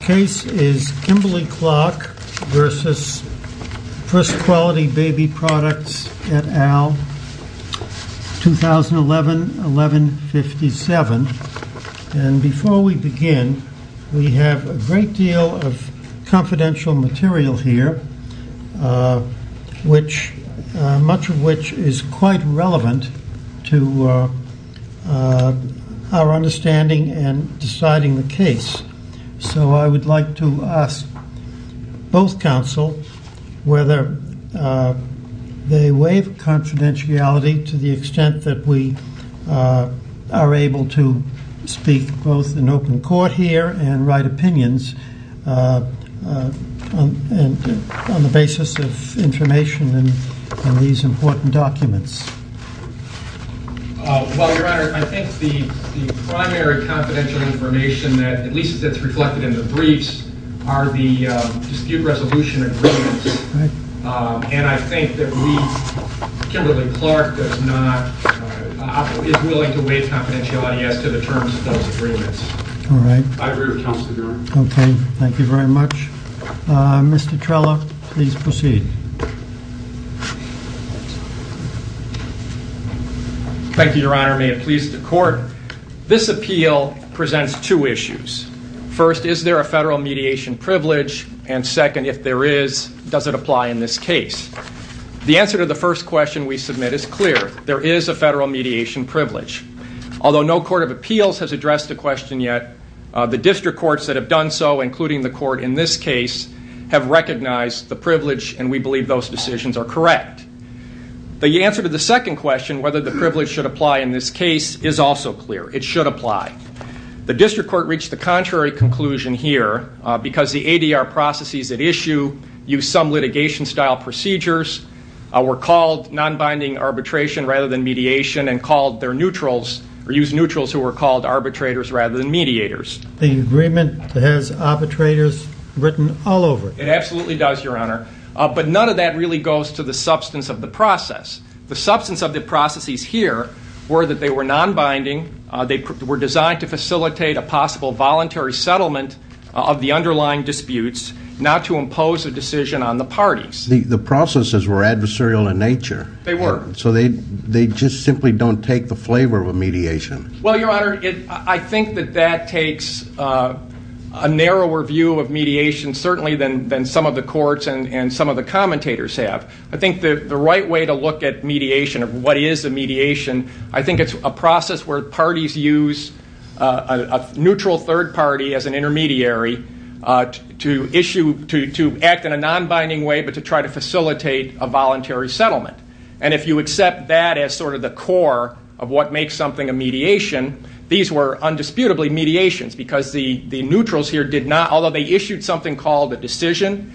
BABY PRODUCTS, et al., 2011-11-57. And before we begin, we have a great deal of confidential material here, much of which is quite relevant to our understanding and deciding the case. So I would like to ask both counsel whether they waive confidentiality to the extent that we are able to speak both in open court here and write opinions on the basis of information in these important documents. Well, Your Honor, I think the primary confidential information, at least as it's reflected in the briefs, are the dispute resolution agreements. And I think that we, Kimberly-Clark, is willing to waive confidentiality as to the terms of those agreements. I agree with counsel, Your Honor. Okay. Thank you very much. Mr. Trello, please proceed. Thank you, Your Honor. May it please the Court, this appeal presents two issues. First, is there a federal mediation privilege? And second, if there is, does it apply in this case? The answer to the first question we submit is clear. There is a federal mediation privilege. Although no court of appeals has addressed the question yet, the district courts that have done so, including the court in this case, have recognized the privilege and we believe those decisions are correct. The answer to the second question, whether the privilege should apply in this case, is also clear. It should apply. The district court reached the contrary conclusion here because the ADR processes at issue use some litigation-style procedures, were called nonbinding arbitration rather than mediation and called their neutrals, or used neutrals who were called arbitrators rather than mediators. The agreement has arbitrators written all over it. It absolutely does, Your Honor. But none of that really goes to the substance of the process. The substance of the processes here were that they were nonbinding, they were designed to facilitate a possible voluntary settlement of the underlying disputes, not to impose a decision on the parties. The processes were adversarial in nature. They were. So they just simply don't take the flavor of a mediation. Well, Your Honor, I think that that takes a narrower view of mediation certainly than some of the courts and some of the commentators have. I think the right way to look at mediation, of what is a mediation, I think it's a process where parties use a neutral third party as an intermediary to issue, to act in a nonbinding way but to try to facilitate a voluntary settlement. And if you accept that as sort of the core of what makes something a mediation, these were undisputably mediations because the neutrals here did not, although they issued something called a decision,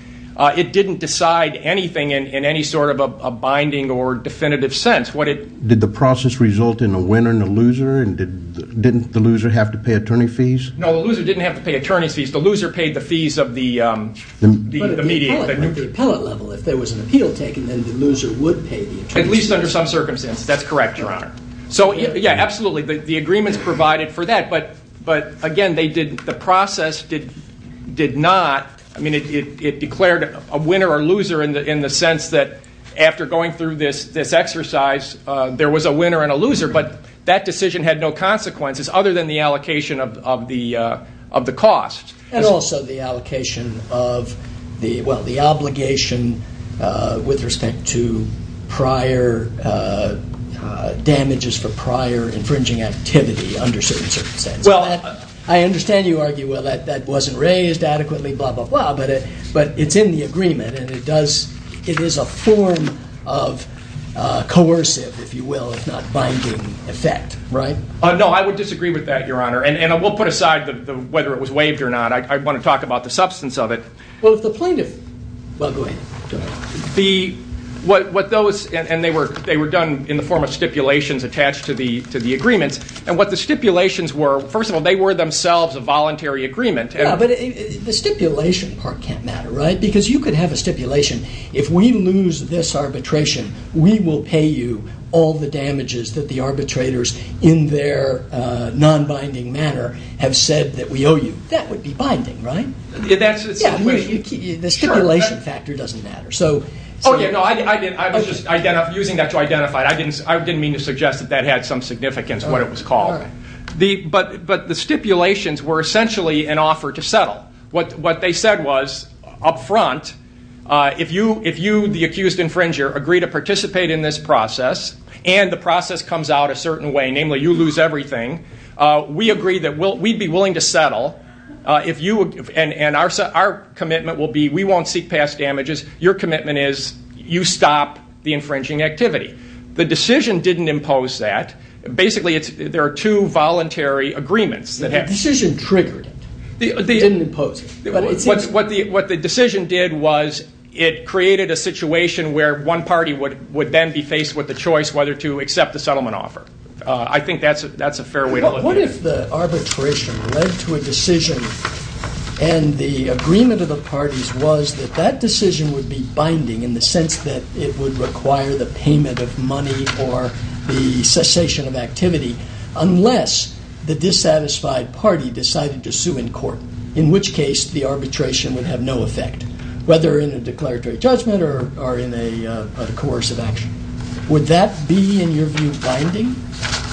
it didn't decide anything in any sort of a binding or Didn't the loser have to pay attorney fees? No, the loser didn't have to pay attorney's fees. The loser paid the fees of the mediation. But at the appellate level, if there was an appeal taken, then the loser would pay the attorney's fees. At least under some circumstances, that's correct, Your Honor. So yeah, absolutely, the agreements provided for that. But again, the process did not, I mean, it declared a winner or loser in the sense that after going through this exercise, there was a winner and a loser, but that decision had no consequences other than the allocation of the cost. And also the allocation of the, well, the obligation with respect to prior damages for prior infringing activity under certain circumstances. I understand you argue, well, that wasn't raised adequately, blah, blah, blah, but it's in the agreement and it is a form of coercive, if you will, if not binding effect, right? No, I would disagree with that, Your Honor. And we'll put aside whether it was waived or not. I want to talk about the substance of it. Well, if the plaintiff, well, go ahead. And they were done in the form of stipulations attached to the agreements. And what the stipulations were, first of all, they were themselves a voluntary agreement. Yeah, but the stipulation part can't matter, right? Because you could have a stipulation, if we lose this arbitration, we will pay you all the damages that the arbitrators in their non-binding manner have said that we owe you. That would be binding, right? The stipulation factor doesn't matter. Oh yeah, no, I was just But the stipulations were essentially an offer to settle. What they said was up front, if you, the accused infringer, agree to participate in this process, and the process comes out a certain way, namely you lose everything, we agree that we'd be willing to settle. And our commitment will be we won't seek past damages. Your commitment is you stop the infringing agreements. The decision triggered it. It didn't impose it. What the decision did was it created a situation where one party would then be faced with the choice whether to accept the settlement offer. I think that's a fair way to look at it. What if the arbitration led to a decision and the agreement of the parties was that that decision would be binding in the sense that it would require the payment of money or the cessation of activity, unless the dissatisfied party decided to sue in court, in which case the arbitration would have no effect, whether in a declaratory judgment or in a coercive action. Would that be, in your view, binding?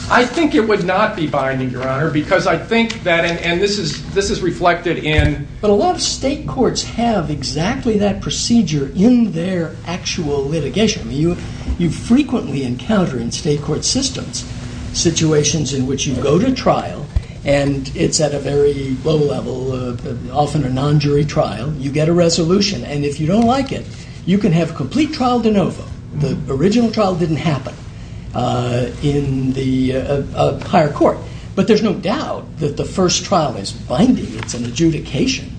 I think it would not be binding, Your Honor, because I think that, and this is reflected in But a lot of state courts have exactly that procedure in their actual litigation. You frequently encounter in state court systems situations in which you go to trial and it's at a very low level, often a non-jury trial. You get a resolution. And if you don't like it, you can have complete trial de novo. The original trial didn't happen in the higher court. But there's no doubt that the first trial is binding. It's an adjudication.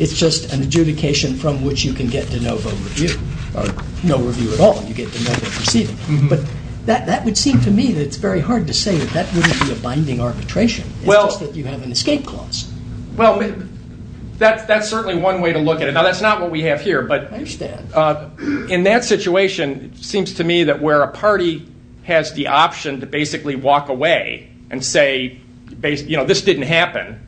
It's just an adjudication from which you can get de novo review, or no review at all. You get de novo proceeding. But that would seem to me that it's very hard to say that that wouldn't be a binding arbitration. It's just that you have an escape clause. Well, that's certainly one way to look at it. Now, that's not what we have here, but in that situation, it seems to me that where a party has the option to basically walk away and say, this didn't happen.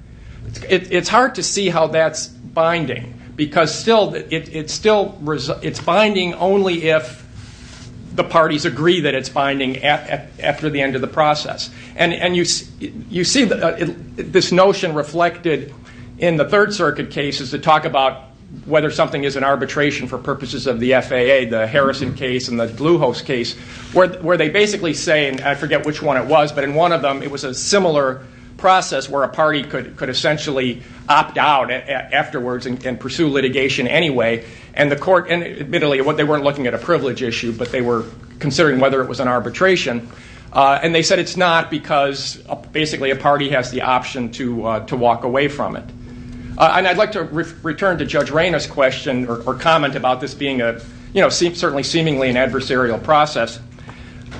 It's hard to see how that's binding, because it's binding only if the parties agree that it's binding after the end of the process. And you see this notion reflected in the Third Circuit cases that talk about whether something is an arbitration for purposes of the FAA, the Harrison case and the Bluehost case, where they basically say, and I forget which one it was, but in one of them, it was a similar process where a party could essentially opt out afterwards and pursue litigation anyway. And admittedly, they weren't looking at a privilege issue, but they were considering whether it was an arbitration. And they said it's not, because basically a party has the option to opt out or comment about this being certainly seemingly an adversarial process.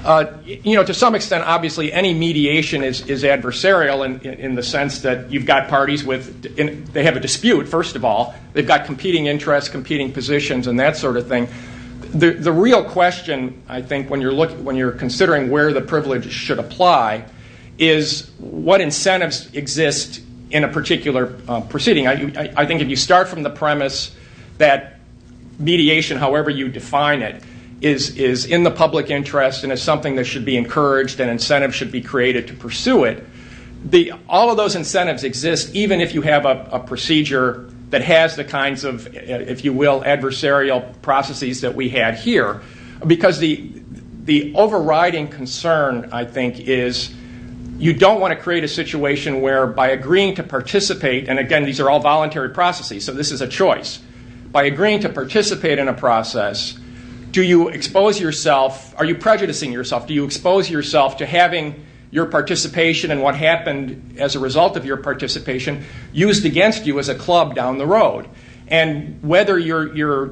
To some extent, obviously, any mediation is adversarial in the sense that you've got parties with, they have a dispute, first of all. They've got competing interests, competing positions, and that sort of thing. The real question, I think, when you're considering where the privilege should apply is what incentives exist in a particular proceeding. I think if you start from the premise that mediation, however you define it, is in the public interest and is something that should be encouraged and incentives should be created to pursue it, all of those incentives exist even if you have a procedure that has the kinds of, if you will, adversarial processes that we had here. Because the overriding concern, I think, is you don't want to create a situation where by agreeing to participate, and again, these are all voluntary processes, so this is a choice. By agreeing to participate in a process, do you expose yourself, are you prejudicing yourself? Do you expose yourself to having your participation and what happened as a result of your participation used against you as a club down the road? And whether you're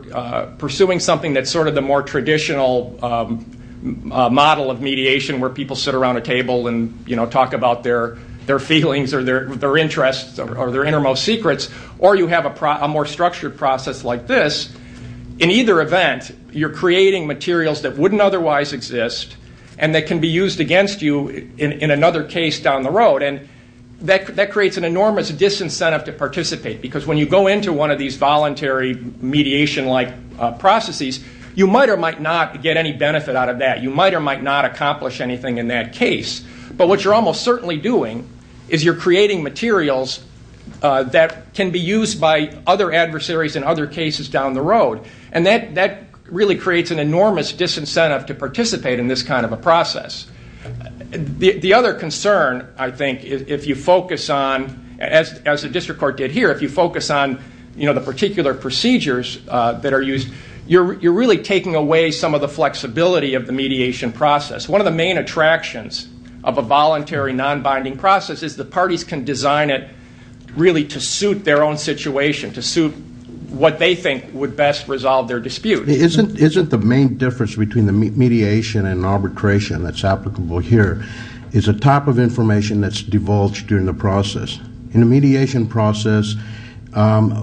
pursuing something that's sort of the more traditional model of mediation where people sit around a table and talk about their feelings or their interests or their innermost secrets, or you have a more structured process like this, in either event, you're creating materials that wouldn't otherwise exist and that can be used against you in another case down the road, and that creates an enormous disincentive to participate because when you go into one of these voluntary mediation-like processes, you might or might not get any benefit out of that. You might or might not accomplish anything in that case, but what you're almost certainly doing is you're creating materials that can be used by other adversaries in other cases down the road, and that really creates an enormous disincentive to participate in this kind of a process. The other concern, I think, if you focus on, as the district court did here, if you focus on the particular procedures that are used, you're really taking away some of the flexibility of the mediation process. One of the main attractions of a voluntary non-binding process is the parties can design it really to suit their own situation, to suit what they think would best resolve their In the mediation process,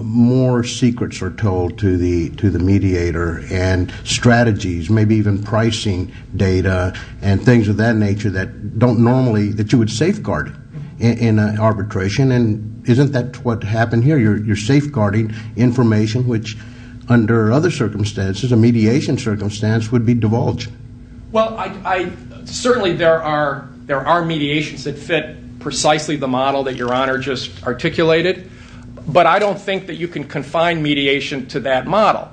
more secrets are told to the mediator and strategies, maybe even pricing data and things of that nature that don't normally, that you would safeguard in arbitration, and isn't that what happened here? You're safeguarding information which under other circumstances, a mediation circumstance, would be divulged. Well, certainly there are mediations that fit precisely the model that Your Honor just articulated, but I don't think that you can confine mediation to that model,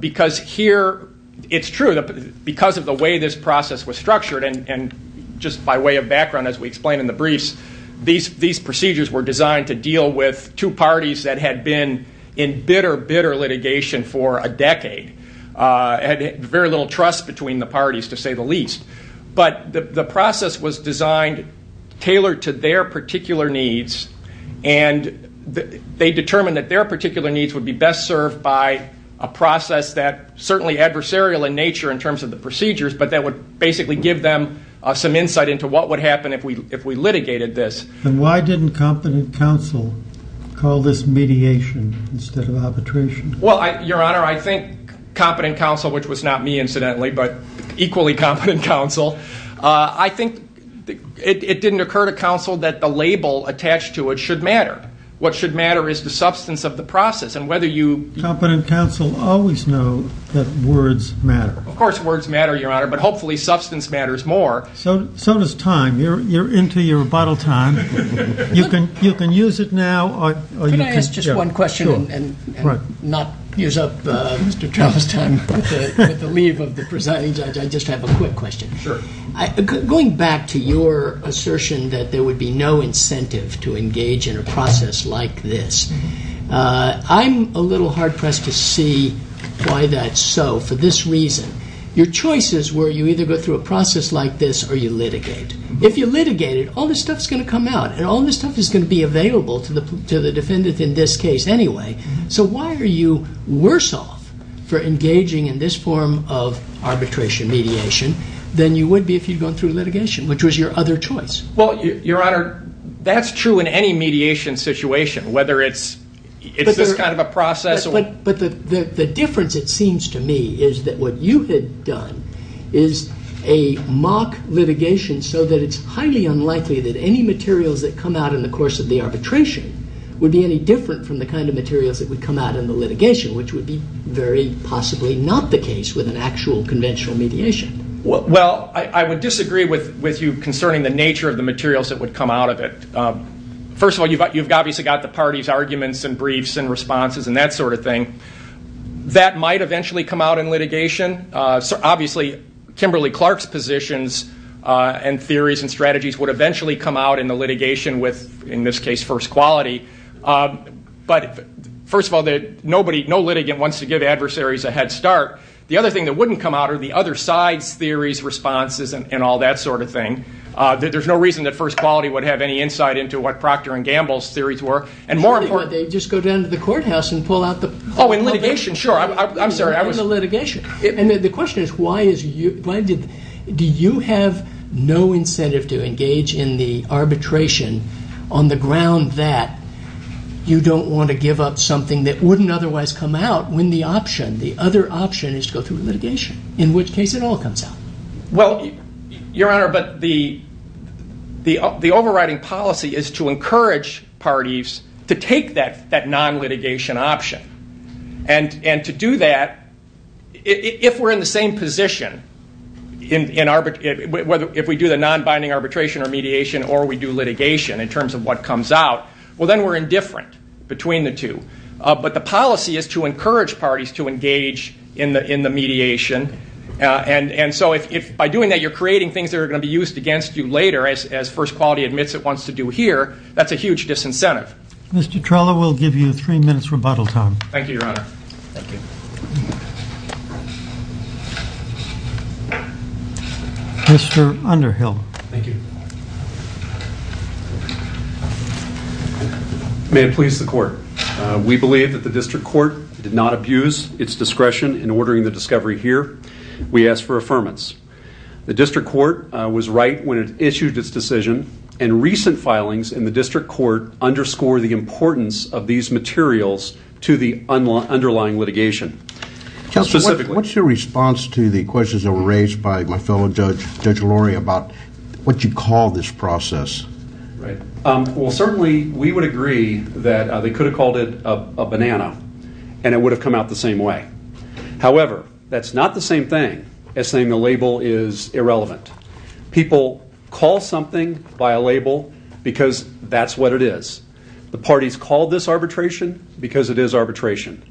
because here, it's true, because of the way this process was structured, and just by way of background, as we explained in the briefs, these procedures were designed to deal with two parties that had been in bitter, bitter litigation for a decade, had very little trust between the parties, to say the least, but the process was designed tailored to their particular needs, and they determined that their particular needs would be best served by a process that, certainly adversarial in nature in terms of the procedures, but that would basically give them some insight into what would happen if we instead of arbitration? Well, Your Honor, I think competent counsel, which was not me, incidentally, but equally competent counsel, I think it didn't occur to counsel that the label attached to it should matter. What should matter is the substance of the process, and whether you... Competent counsel always know that words matter. Of course words matter, Your Honor, but hopefully substance matters more. So does time. You're into your final question, and not use up Mr. Travis' time with the leave of the presiding judge. I just have a quick question. Sure. Going back to your assertion that there would be no incentive to engage in a process like this, I'm a little hard pressed to see why that's so, for this reason. Your choice is where you either go through a process like this, or you litigate. If you litigate it, all this stuff's going to come out, and all this stuff is going to be available to the defendant in this case anyway. So why are you worse off for engaging in this form of arbitration mediation than you would be if you'd gone through litigation, which was your other choice? Well, Your Honor, that's true in any mediation situation, whether it's this kind of a process... But the difference, it seems to me, is that what you had done is a mock litigation so that it's highly unlikely that any materials that come out in the course of the arbitration would be any different from the kind of materials that would come out in the litigation, which would be very possibly not the case with an actual conventional mediation. Well, I would disagree with you concerning the nature of the materials that would come out of it. First of all, you've obviously got the parties' arguments and briefs and responses and that sort of thing. That might eventually come out in litigation. Obviously, Kimberly-Clark's positions and theories and strategies would eventually come out in the litigation with, in this case, first quality. But first of all, no litigant wants to give adversaries a head start. The other thing that wouldn't come out are the other side's theories, responses, and all that sort of thing. There's no reason that first quality would have any insight into what Proctor and Gamble's theories were. They'd just go down to the courthouse and pull out the... Oh, in litigation, sure. I'm sorry. In the litigation. And the question is, do you have no incentive to engage in the arbitration on the ground that you don't want to give up something that wouldn't otherwise come out when the other option is to go through litigation, in which case it all comes out? Well, Your Honor, but the overriding policy is to encourage parties to take that non-litigation option. And to do that, if we're in the same position, if we do the non-binding arbitration or mediation or we do litigation in terms of what comes out, well then we're indifferent between the two. But the policy is to if by doing that you're creating things that are going to be used against you later, as first quality admits it wants to do here, that's a huge disincentive. Mr. Trella, we'll give you three minutes rebuttal time. Thank you, Your Honor. Thank you. Mr. Underhill. Thank you. May it please the Court. We believe that the District Court did not abuse its discretion in ordering the discovery here. We ask for affirmance. The District Court was right when it issued its decision, and recent filings in the District Court underscore the importance of these materials to the underlying litigation. What's your response to the questions that were raised by my fellow judge, Judge Lori, about what you call this process? Well, certainly we would agree that they could have called it a banana, and it would have come out the same way. However, that's not the same thing as saying the label is irrelevant. People call something by a label because that's what it is. The parties call this arbitration because it is arbitration.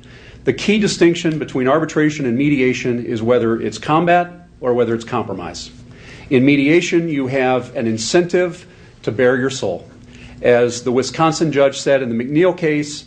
The key distinction between arbitration and mediation is whether it's combat or whether it's compromise. In mediation, you have an incentive to bear your soul. As the Wisconsin judge said in the McNeil case,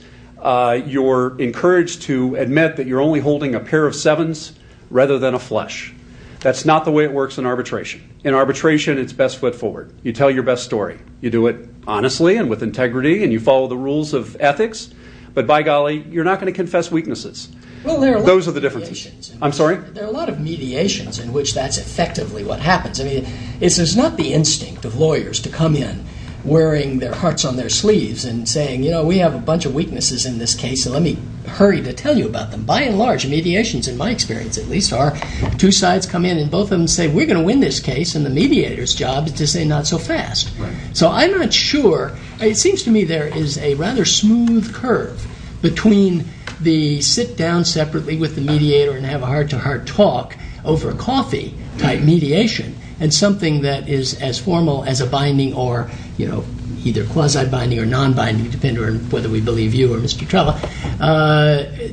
you're encouraged to admit that you're only holding a pair of sevens rather than a flush. That's not the way it works in arbitration. In arbitration, it's best foot forward. You tell your best story. You do it honestly and with integrity, and you follow the rules of ethics, but by golly, you're not going to confess weaknesses. Those are the differences. I'm sorry? There are a lot of mediations in which that's effectively what happens. It's not the instinct of lawyers to come in wearing their hearts on their sleeves and saying, you know, we have a bunch of weaknesses in this case, so let me hurry to tell you about them. By and large, mediations, in my experience at least, are two sides come in and both of them say, we're going to win this case, and the mediator's job is to say not so fast. So I'm not sure. It seems to me there is a rather smooth curve between the sit down separately with the mediator and have a heart-to-heart talk over coffee type mediation and something that is as formal as a binding or, you know, either quasi-binding or non-binding, depending on whether we believe you or Mr. Trella,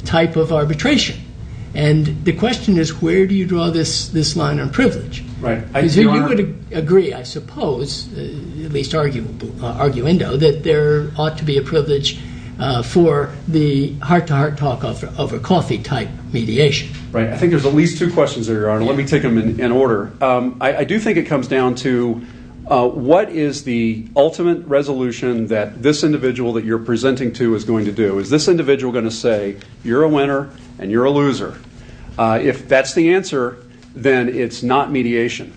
type of arbitration. And the question is, where do you draw this line on privilege? Because you would agree, I suppose, at least arguendo, that there ought to be a privilege for the heart-to-heart talk over coffee type mediation. Right. I think there's at least two questions there, Your Honor. Let me take them in order. I do think it comes down to what is the ultimate resolution that this individual that you're presenting to is going to do? Is this individual going to say, you're a winner and you're a loser? If that's the answer, then it's not mediation.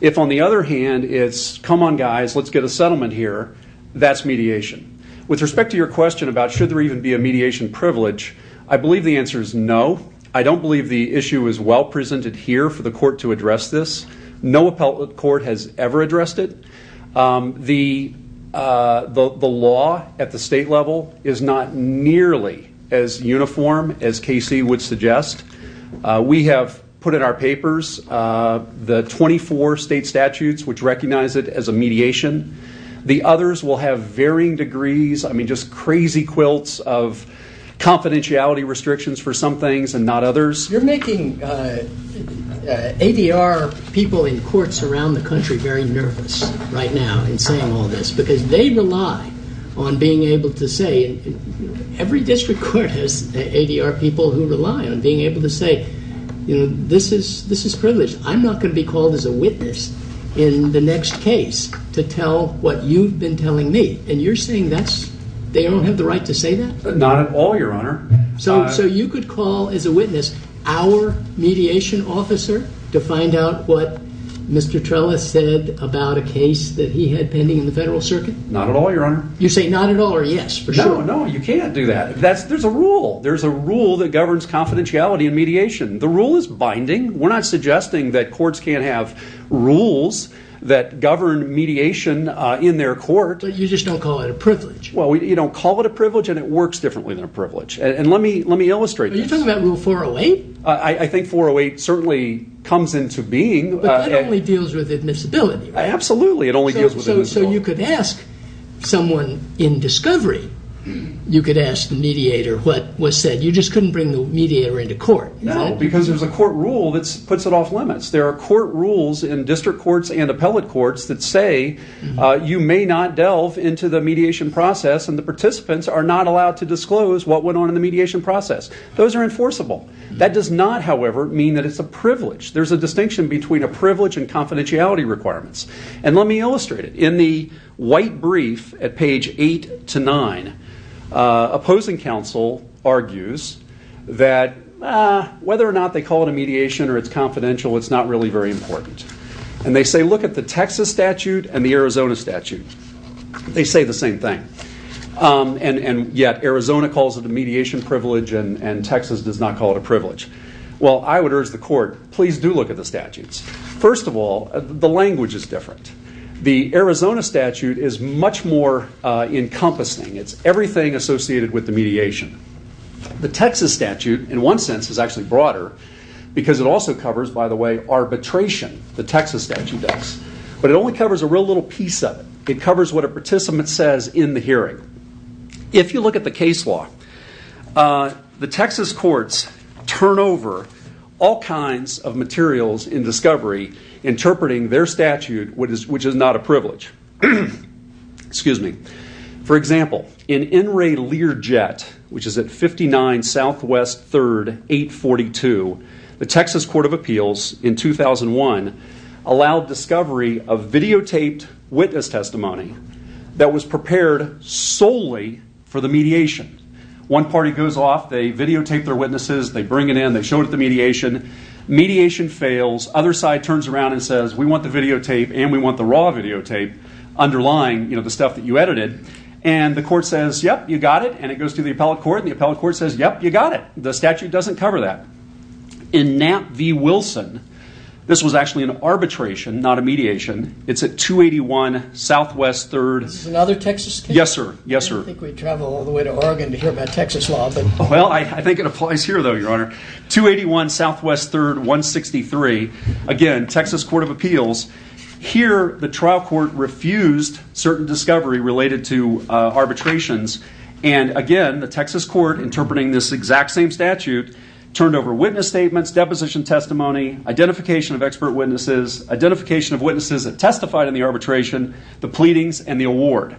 If, on the other hand, it's, come on guys, let's get a settlement here, that's mediation. With respect to your question about should there even be a mediation privilege, I believe the answer is no. I don't believe the issue is well presented here for the court to address this. No appellate court has ever addressed it. The law at the state level is not nearly as uniform as Casey would suggest. We have put in our papers the 24 state statutes which recognize it as a mediation. The others will have varying degrees, I mean, just crazy quilts of confidentiality restrictions for some things and not others. You're making ADR people in courts around the country very nervous right now in saying all this because they rely on being able to say, every district court has ADR people who rely on being able to say, this is privileged. I'm not going to be called as a witness in the next case to tell what you've been telling me. And you're saying they don't have the right to say that? Not at all, your honor. So you could call as a witness our mediation officer to find out what Mr. Trellis said about a case that he had pending in the federal circuit? Not at all, your honor. You say not at all or yes? No, you can't do that. There's a rule that governs confidentiality and mediation. The rule is binding. We're not suggesting that courts can't have rules that govern mediation in their court. But you just don't call it a privilege? Well, you don't call it a privilege and it works differently than a privilege. And let me illustrate this. Are you talking about rule 408? I think 408 certainly comes into being. But that only deals with admissibility, right? Absolutely, it only deals with admissibility. So you could ask someone in discovery, you could ask the mediator what was said. You just couldn't bring the mediator into court. No, because there's a court rule that you may not delve into the mediation process and the participants are not allowed to disclose what went on in the mediation process. Those are enforceable. That does not, however, mean that it's a privilege. There's a distinction between a privilege and confidentiality requirements. And let me illustrate it. In the white brief at page 8 to 9, opposing counsel argues that whether or not they call it a mediation or confidential, it's not really very important. And they say, look at the Texas statute and the Arizona statute. They say the same thing. And yet, Arizona calls it a mediation privilege and Texas does not call it a privilege. Well, I would urge the court, please do look at the statutes. First of all, the language is different. The Arizona statute is much more encompassing. It's everything associated with the mediation. The Texas statute, in one sense, is actually broader because it also covers, by the way, arbitration. The Texas statute does. But it only covers a real little piece of it. It covers what a participant says in the hearing. If you look at the case law, the Texas courts turn over all kinds of materials in discovery interpreting their statute, which is not a privilege. For example, in Enray Learjet, which is at 59 Southwest 3rd 842, the Texas Court of Appeals in 2001 allowed discovery of videotaped witness testimony that was prepared solely for the mediation. One party goes off, they videotape their witnesses, they bring it in, they show it at the mediation. Mediation fails. Other side turns around and says, we want the videotape and we want the raw videotape underlying the stuff that you edited. And the court says, yep, you got it. And it goes to the appellate court, and the appellate court says, yep, you got it. The statute doesn't cover that. In Knapp v. Wilson, this was actually an arbitration, not a mediation. It's at 281 Southwest 3rd... Is this another Texas case? Yes, sir. I didn't think we'd travel all the way to Oregon to hear about Texas law. Well, I think it applies here, though, Your Honor. 281 Southwest 3rd 163. Again, Texas Court of Appeals. Here, the trial court refused certain discovery related to arbitrations. And again, the Texas court, interpreting this exact same statute, turned over witness statements, deposition testimony, identification of expert witnesses, identification of witnesses that testified in the arbitration, the pleadings, and the award.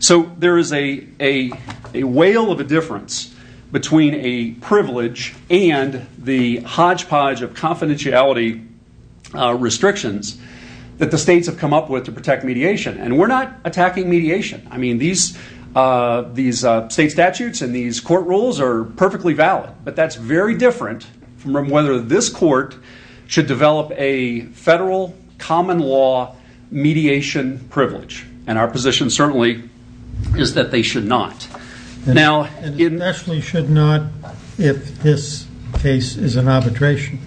So there is a whale of a difference between a privilege and the hodgepodge of confidentiality restrictions that the states have come up with to protect mediation. And we're not attacking mediation. I mean, these state statutes and these court rules are perfectly valid. But that's very different from whether this court should develop a federal common law mediation privilege. And our position certainly is that they should not. And especially should not if this case is an arbitration.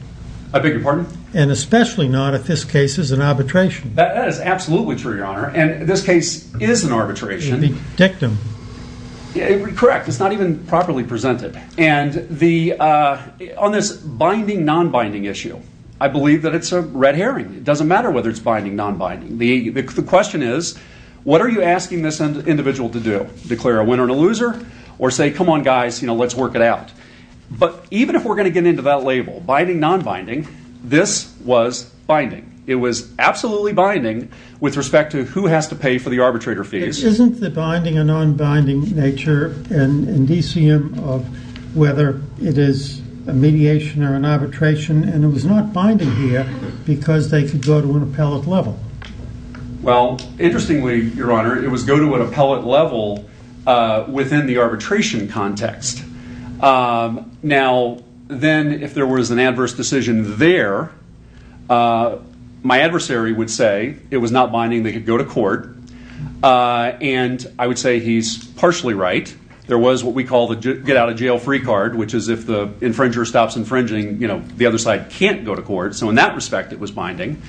I beg your pardon? And especially not if this case is an arbitration. That is absolutely true, Your Honor. And this case is an arbitration. Correct. It's not even properly presented. On this binding, non-binding issue, I believe that it's a red herring. It doesn't matter whether it's binding, non-binding. The question is, what are you asking this individual to do? Declare a winner and a loser? Or say, come on guys, let's work it out. But even if we're going to get into that label, binding, non-binding, this was binding. It was absolutely binding with respect to who has to pay for the arbitrator fees. Isn't the binding and non-binding nature an indicium of whether it is a mediation or an arbitration? And it was not binding here because they could go to an appellate level. Well, interestingly, Your Honor, it was go to an appellate level within the arbitration context. Now, then if there was an adverse decision there, my adversary would say it was not binding, they could go to court. And I would say he's partially right. There was what we call the get out of jail free card, which is if the infringer stops infringing, the other side can't go to court. So in that respect, it was binding.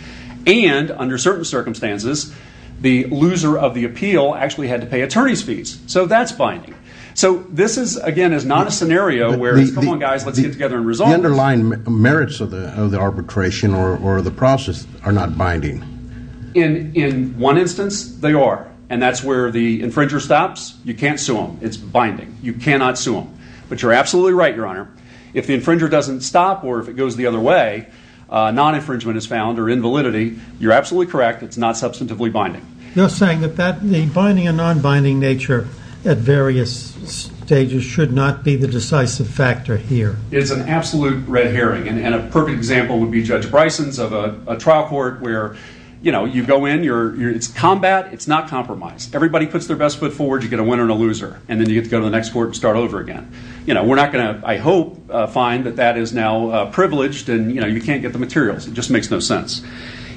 And under certain circumstances, the loser of the appeal actually had to pay attorney's fees. So that's binding. So this is, again, not a scenario where, come on guys, let's get together and resolve this. The underlying merits of the arbitration or the process are not binding. In one instance, they are. And that's where the infringer stops. You can't sue them. It's binding. You cannot sue them. But you're absolutely right, Your Honor. If the infringer doesn't stop or if it goes the other way, non-infringement is found or invalidity, you're absolutely correct, it's not substantively binding. You're saying that the binding and non-binding nature at various stages should not be the decisive factor here. It's an absolute red herring. And a perfect example would be Judge Bryson's of a trial court where you go in, it's combat, it's not compromise. Everybody puts their best foot forward, you get a winner and a loser. And then you get to go to the next court and start over again. We're not going to, I hope, find that that is now privileged and you can't get the materials. It just makes no sense.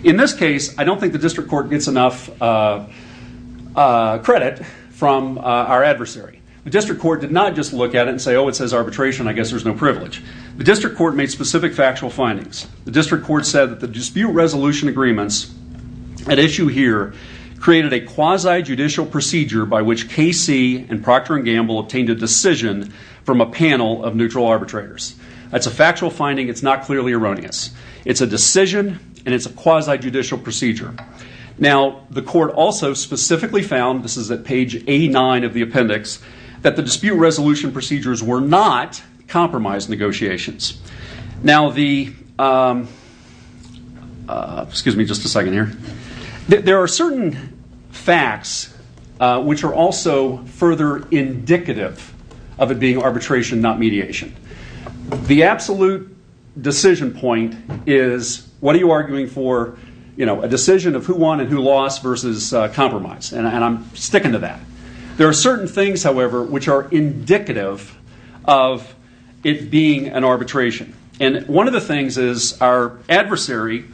In this case, I don't think the district court gets enough credit from our adversary. The district court did not just look at it and say, oh, it says arbitration, I guess there's no privilege. The district court made specific factual findings. The district court said that the dispute resolution agreements at issue here created a contradiction from a panel of neutral arbitrators. It's a factual finding, it's not clearly erroneous. It's a decision and it's a quasi-judicial procedure. Now, the court also specifically found, this is at page 89 of the appendix, that the dispute resolution procedures were not compromise negotiations. There are certain facts which are also further indicative of it being arbitration, not mediation. The absolute decision point is, what are you arguing for? A decision of who won and who lost versus compromise. And I'm sticking to that. There are certain things, however, which are indicative of it being an arbitration. And one of the things is our adversary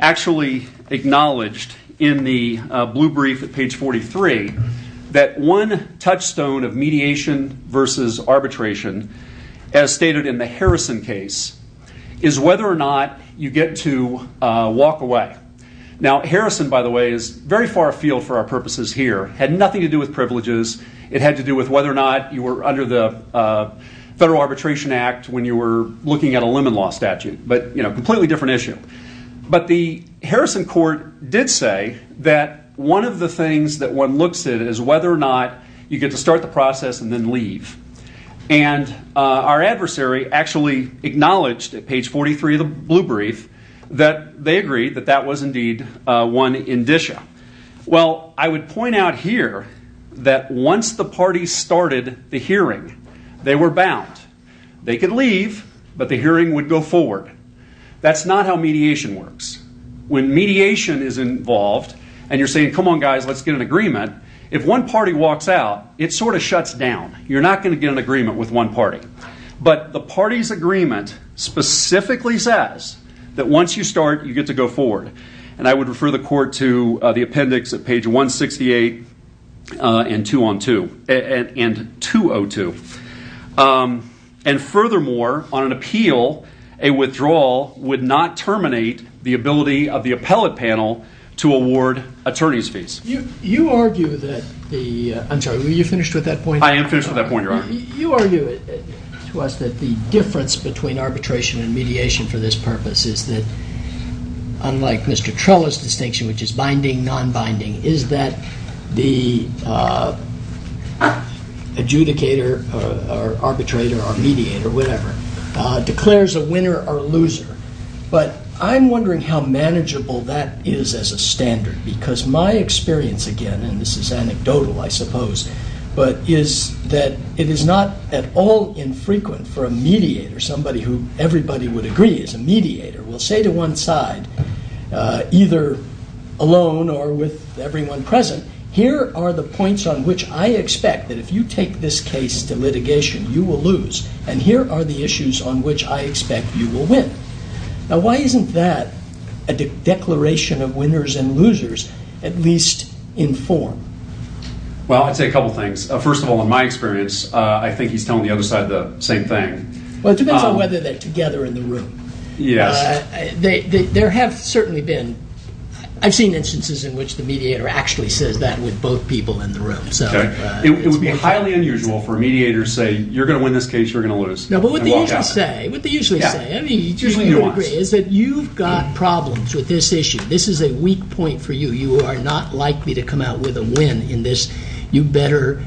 actually acknowledged in the blue brief at page 43 that one touchstone of mediation versus arbitration, as stated in the Harrison case, is whether or not you get to walk away. Now, Harrison, by the way, is very far afield for our purposes here. It had nothing to do with privileges. It had to do with whether or not you were under the Lemon Law statute, but a completely different issue. But the Harrison court did say that one of the things that one looks at is whether or not you get to start the process and then leave. And our adversary actually acknowledged at page 43 of the blue brief that they agreed that that was indeed one indicia. Well, I would point out here that once the party started the hearing, they were bound. They could leave, but the hearing would go forward. That's not how mediation works. When mediation is involved and you're saying, come on, guys, let's get an agreement, if one party walks out, it sort of shuts down. You're not going to get an agreement with one party. But the party's agreement specifically says that once you start, you get to go forward. And I would refer the court to the appendix at page 168 and 202. And furthermore, on an appeal, a withdrawal would not terminate the ability of the appellate panel to award attorney's fees. You argue that the... I'm sorry, were you finished with that point? I am finished with that point, Your Honor. You argue to us that the difference between arbitration and mediation for this purpose is that unlike Mr. Trella's distinction, which is binding, non-binding, is that the adjudicator or arbitrator or mediator, whatever, declares a winner or loser. But I'm wondering how manageable that is as a standard because my experience, again, and this is anecdotal, I suppose, but is that it is not at all infrequent for a mediator, somebody who everybody would agree is a mediator, will say to one side, either alone or with everyone present, here are the points on which I expect that if you take this case to litigation, you will lose. And here are the issues on which I expect you will win. Now why isn't that a declaration of winners and losers at least in form? Well, I'd say a couple things. First of all, in my experience, I think he's telling the other side the same thing. Well, it depends on whether they're together in the room. Yes. There have certainly been... I've seen instances in which the mediator actually says that with both people in the room. It would be highly unusual for a mediator to say, you're going to win this case, you're going to lose. No, but what they usually say, is that you've got problems with this issue. This is a weak point for you. You are not likely to come out with a win in this. You better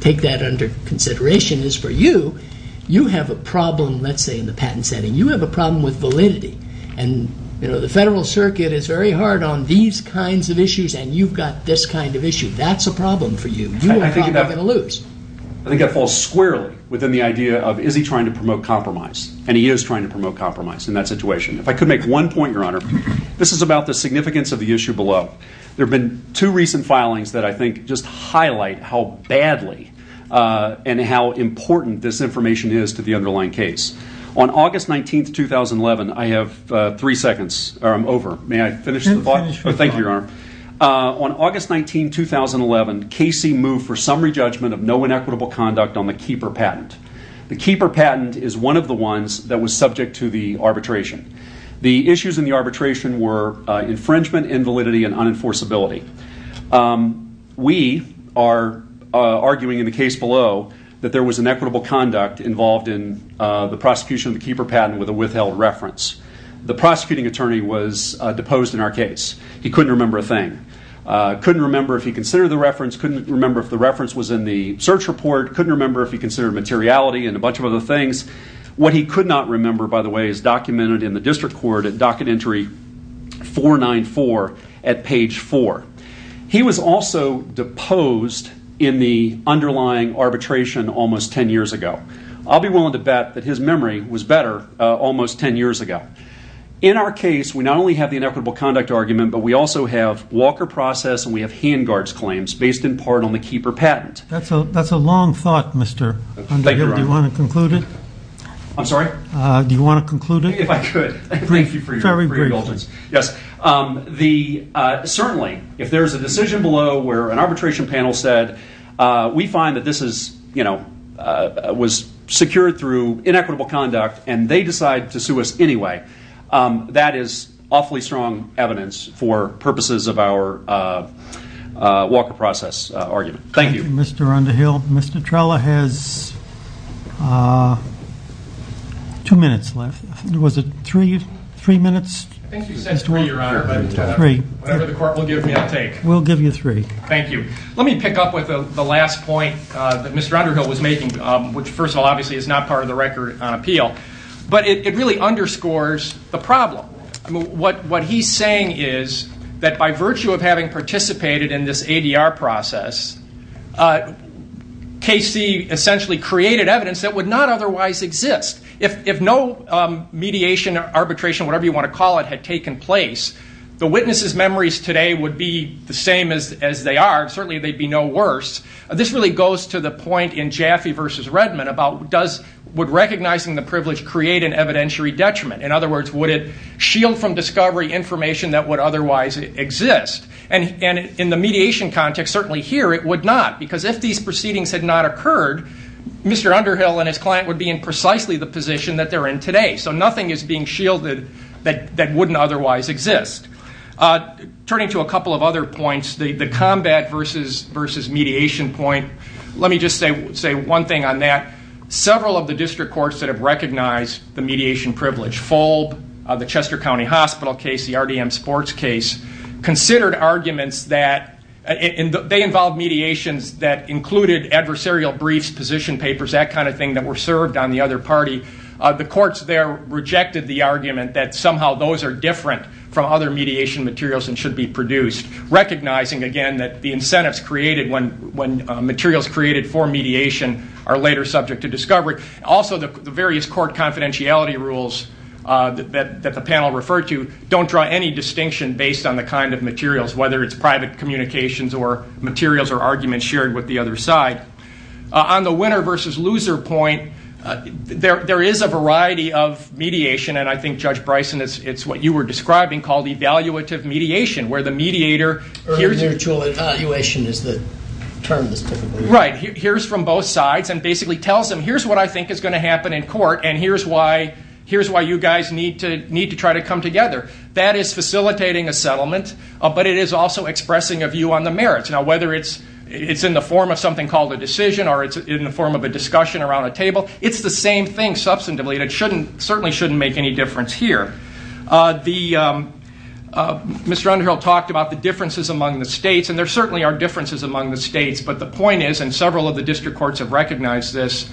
take that under consideration. As for you, you have a problem, let's say, in the patent setting. You have a problem with validity. And the Federal Circuit is very hard on these kinds of issues, and you've got this kind of issue. That's a problem for you. You are probably going to lose. I think that falls squarely within the idea of, is he trying to promote compromise? And he is trying to promote compromise in that situation. If I could make one point, Your Honor, this is about the significance of the issue below. There have been two recent filings that I think just highlight how badly and how important this information is to the underlying case. On August 19, 2011, I have three seconds, or I'm over. May I finish the thought? You can finish. Thank you, Your Honor. On August 19, 2011, Casey moved for summary judgment of no inequitable conduct on the Keeper patent. The Keeper patent is one of the ones that was subject to the arbitration. The issues in the arbitration were infringement, invalidity, and unenforceability. We are arguing in the case below that there was inequitable conduct involved in the prosecution of the Keeper patent with a withheld reference. The prosecuting attorney was deposed in our case. He couldn't remember a thing. Couldn't remember if he considered the reference. Couldn't remember if the reference was in the search report. Couldn't remember if he considered materiality and a bunch of other things. What he could not remember, by the way, is documented in the District Court at Docket Entry 494 at page 4. He was also deposed in the underlying arbitration almost 10 years ago. I'll be willing to bet that his memory was better almost 10 years ago. In our case, we not only have the inequitable conduct argument, but we also have Walker process and we have hand guards claims based in part on the Keeper patent. That's a long thought, Mr. Underhill. Do you want to conclude it? I'm sorry? Do you want to conclude it? If I could. Thank you for your questions. Certainly, if there's a decision below where an arbitration panel said, we find that this was secured through inequitable conduct and they decide to sue us anyway, that is awfully strong evidence for purposes of our Walker process argument. Thank you. Thank you, Mr. Underhill. Mr. Trella has two minutes left. Was it three minutes? I think you said three, Your Honor. Whatever the court will give me, I'll take. We'll give you three. Thank you. Let me pick up with the last point that Mr. Underhill was making, which first of all, obviously is not part of the record on appeal. It really underscores the problem. What he's saying is that by virtue of having participated in this ADR process, KC essentially created evidence that would not otherwise exist. If no mediation, arbitration, whatever you want to call it, had taken place, the witnesses' memories today would be the same as they are. Certainly they'd be no worse. This really goes to the point in Jaffe v. Redmond about would recognizing the privilege create an evidentiary detriment? In other words, would it shield from discovery information that would otherwise exist? In the mediation context, certainly here, it would not. Because if these proceedings had not occurred, Mr. Underhill and his client would be in precisely the position that they're in today. Nothing is being shielded that wouldn't otherwise exist. Turning to a couple of other points, the combat versus mediation point, let me just say one thing on that. Several of the district courts that have recognized the mediation privilege, Fulb, the Chester County Hospital case, the RDM sports case, considered arguments that they involved mediations that included adversarial briefs, position papers, that kind of thing that were served on the other party. The courts there rejected the argument that somehow those are different from other mediation materials and should be produced. Recognizing, again, that the incentives created when materials created for mediation are later subject to discovery. Also, the various court confidentiality rules that the panel referred to don't draw any distinction based on the kind of materials, whether it's private communications or materials or arguments shared with the other side. On the winner versus loser point, there is a variety of mediation. I think, Judge Bryson, it's what you were describing called evaluative mediation, where the mediator hears from both sides and basically tells them, here's what I think is going to happen in court and here's why you guys need to try to come together. That is facilitating a settlement, but it is also expressing a view on the merits. Now, whether it's in the form of something called a decision or it's in the form of a discussion around a table, it's the same thing substantively, and it certainly shouldn't make any difference here. Mr. Underhill talked about the differences among the states, and there certainly are differences among the states, but the point is, and several of the district courts have recognized this,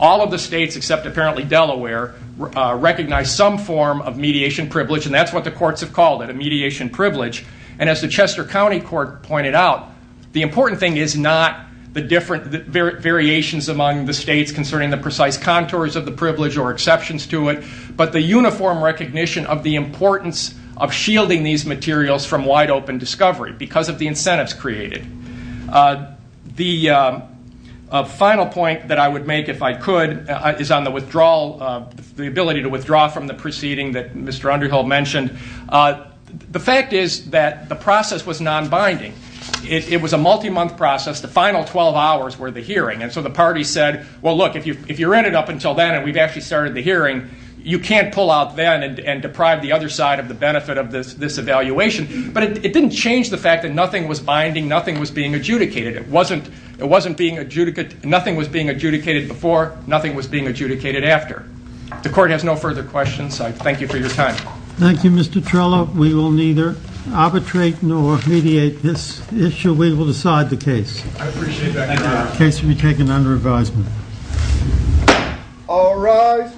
all of the states, except apparently Delaware, recognize some form of mediation privilege, and that's what the courts have called it, a mediation privilege. And as the Chester County Court pointed out, the important thing is not the variations among the states concerning the precise contours of the privilege or exceptions to it, but the uniform recognition of the importance of shielding these materials from wide-open discovery because of the incentives created. The final point that I would make, if I could, is on the withdrawal, the ability to withdraw from the proceeding that Mr. Underhill mentioned. The fact is that the process was non-binding. It was a multi-month process. The final 12 hours were the hearing, and so the party said, well, look, if you're in it up until then and we've actually started the hearing, you can't pull out then and deprive the other side of the benefit of this evaluation. But it didn't change the fact that nothing was binding, nothing was being adjudicated. It wasn't being adjudicated, nothing was being adjudicated before, nothing was being Mr. Trello, we will neither arbitrate nor mediate this issue. We will decide the case. I appreciate that, Your Honor. The case will be taken under advisement. All rise.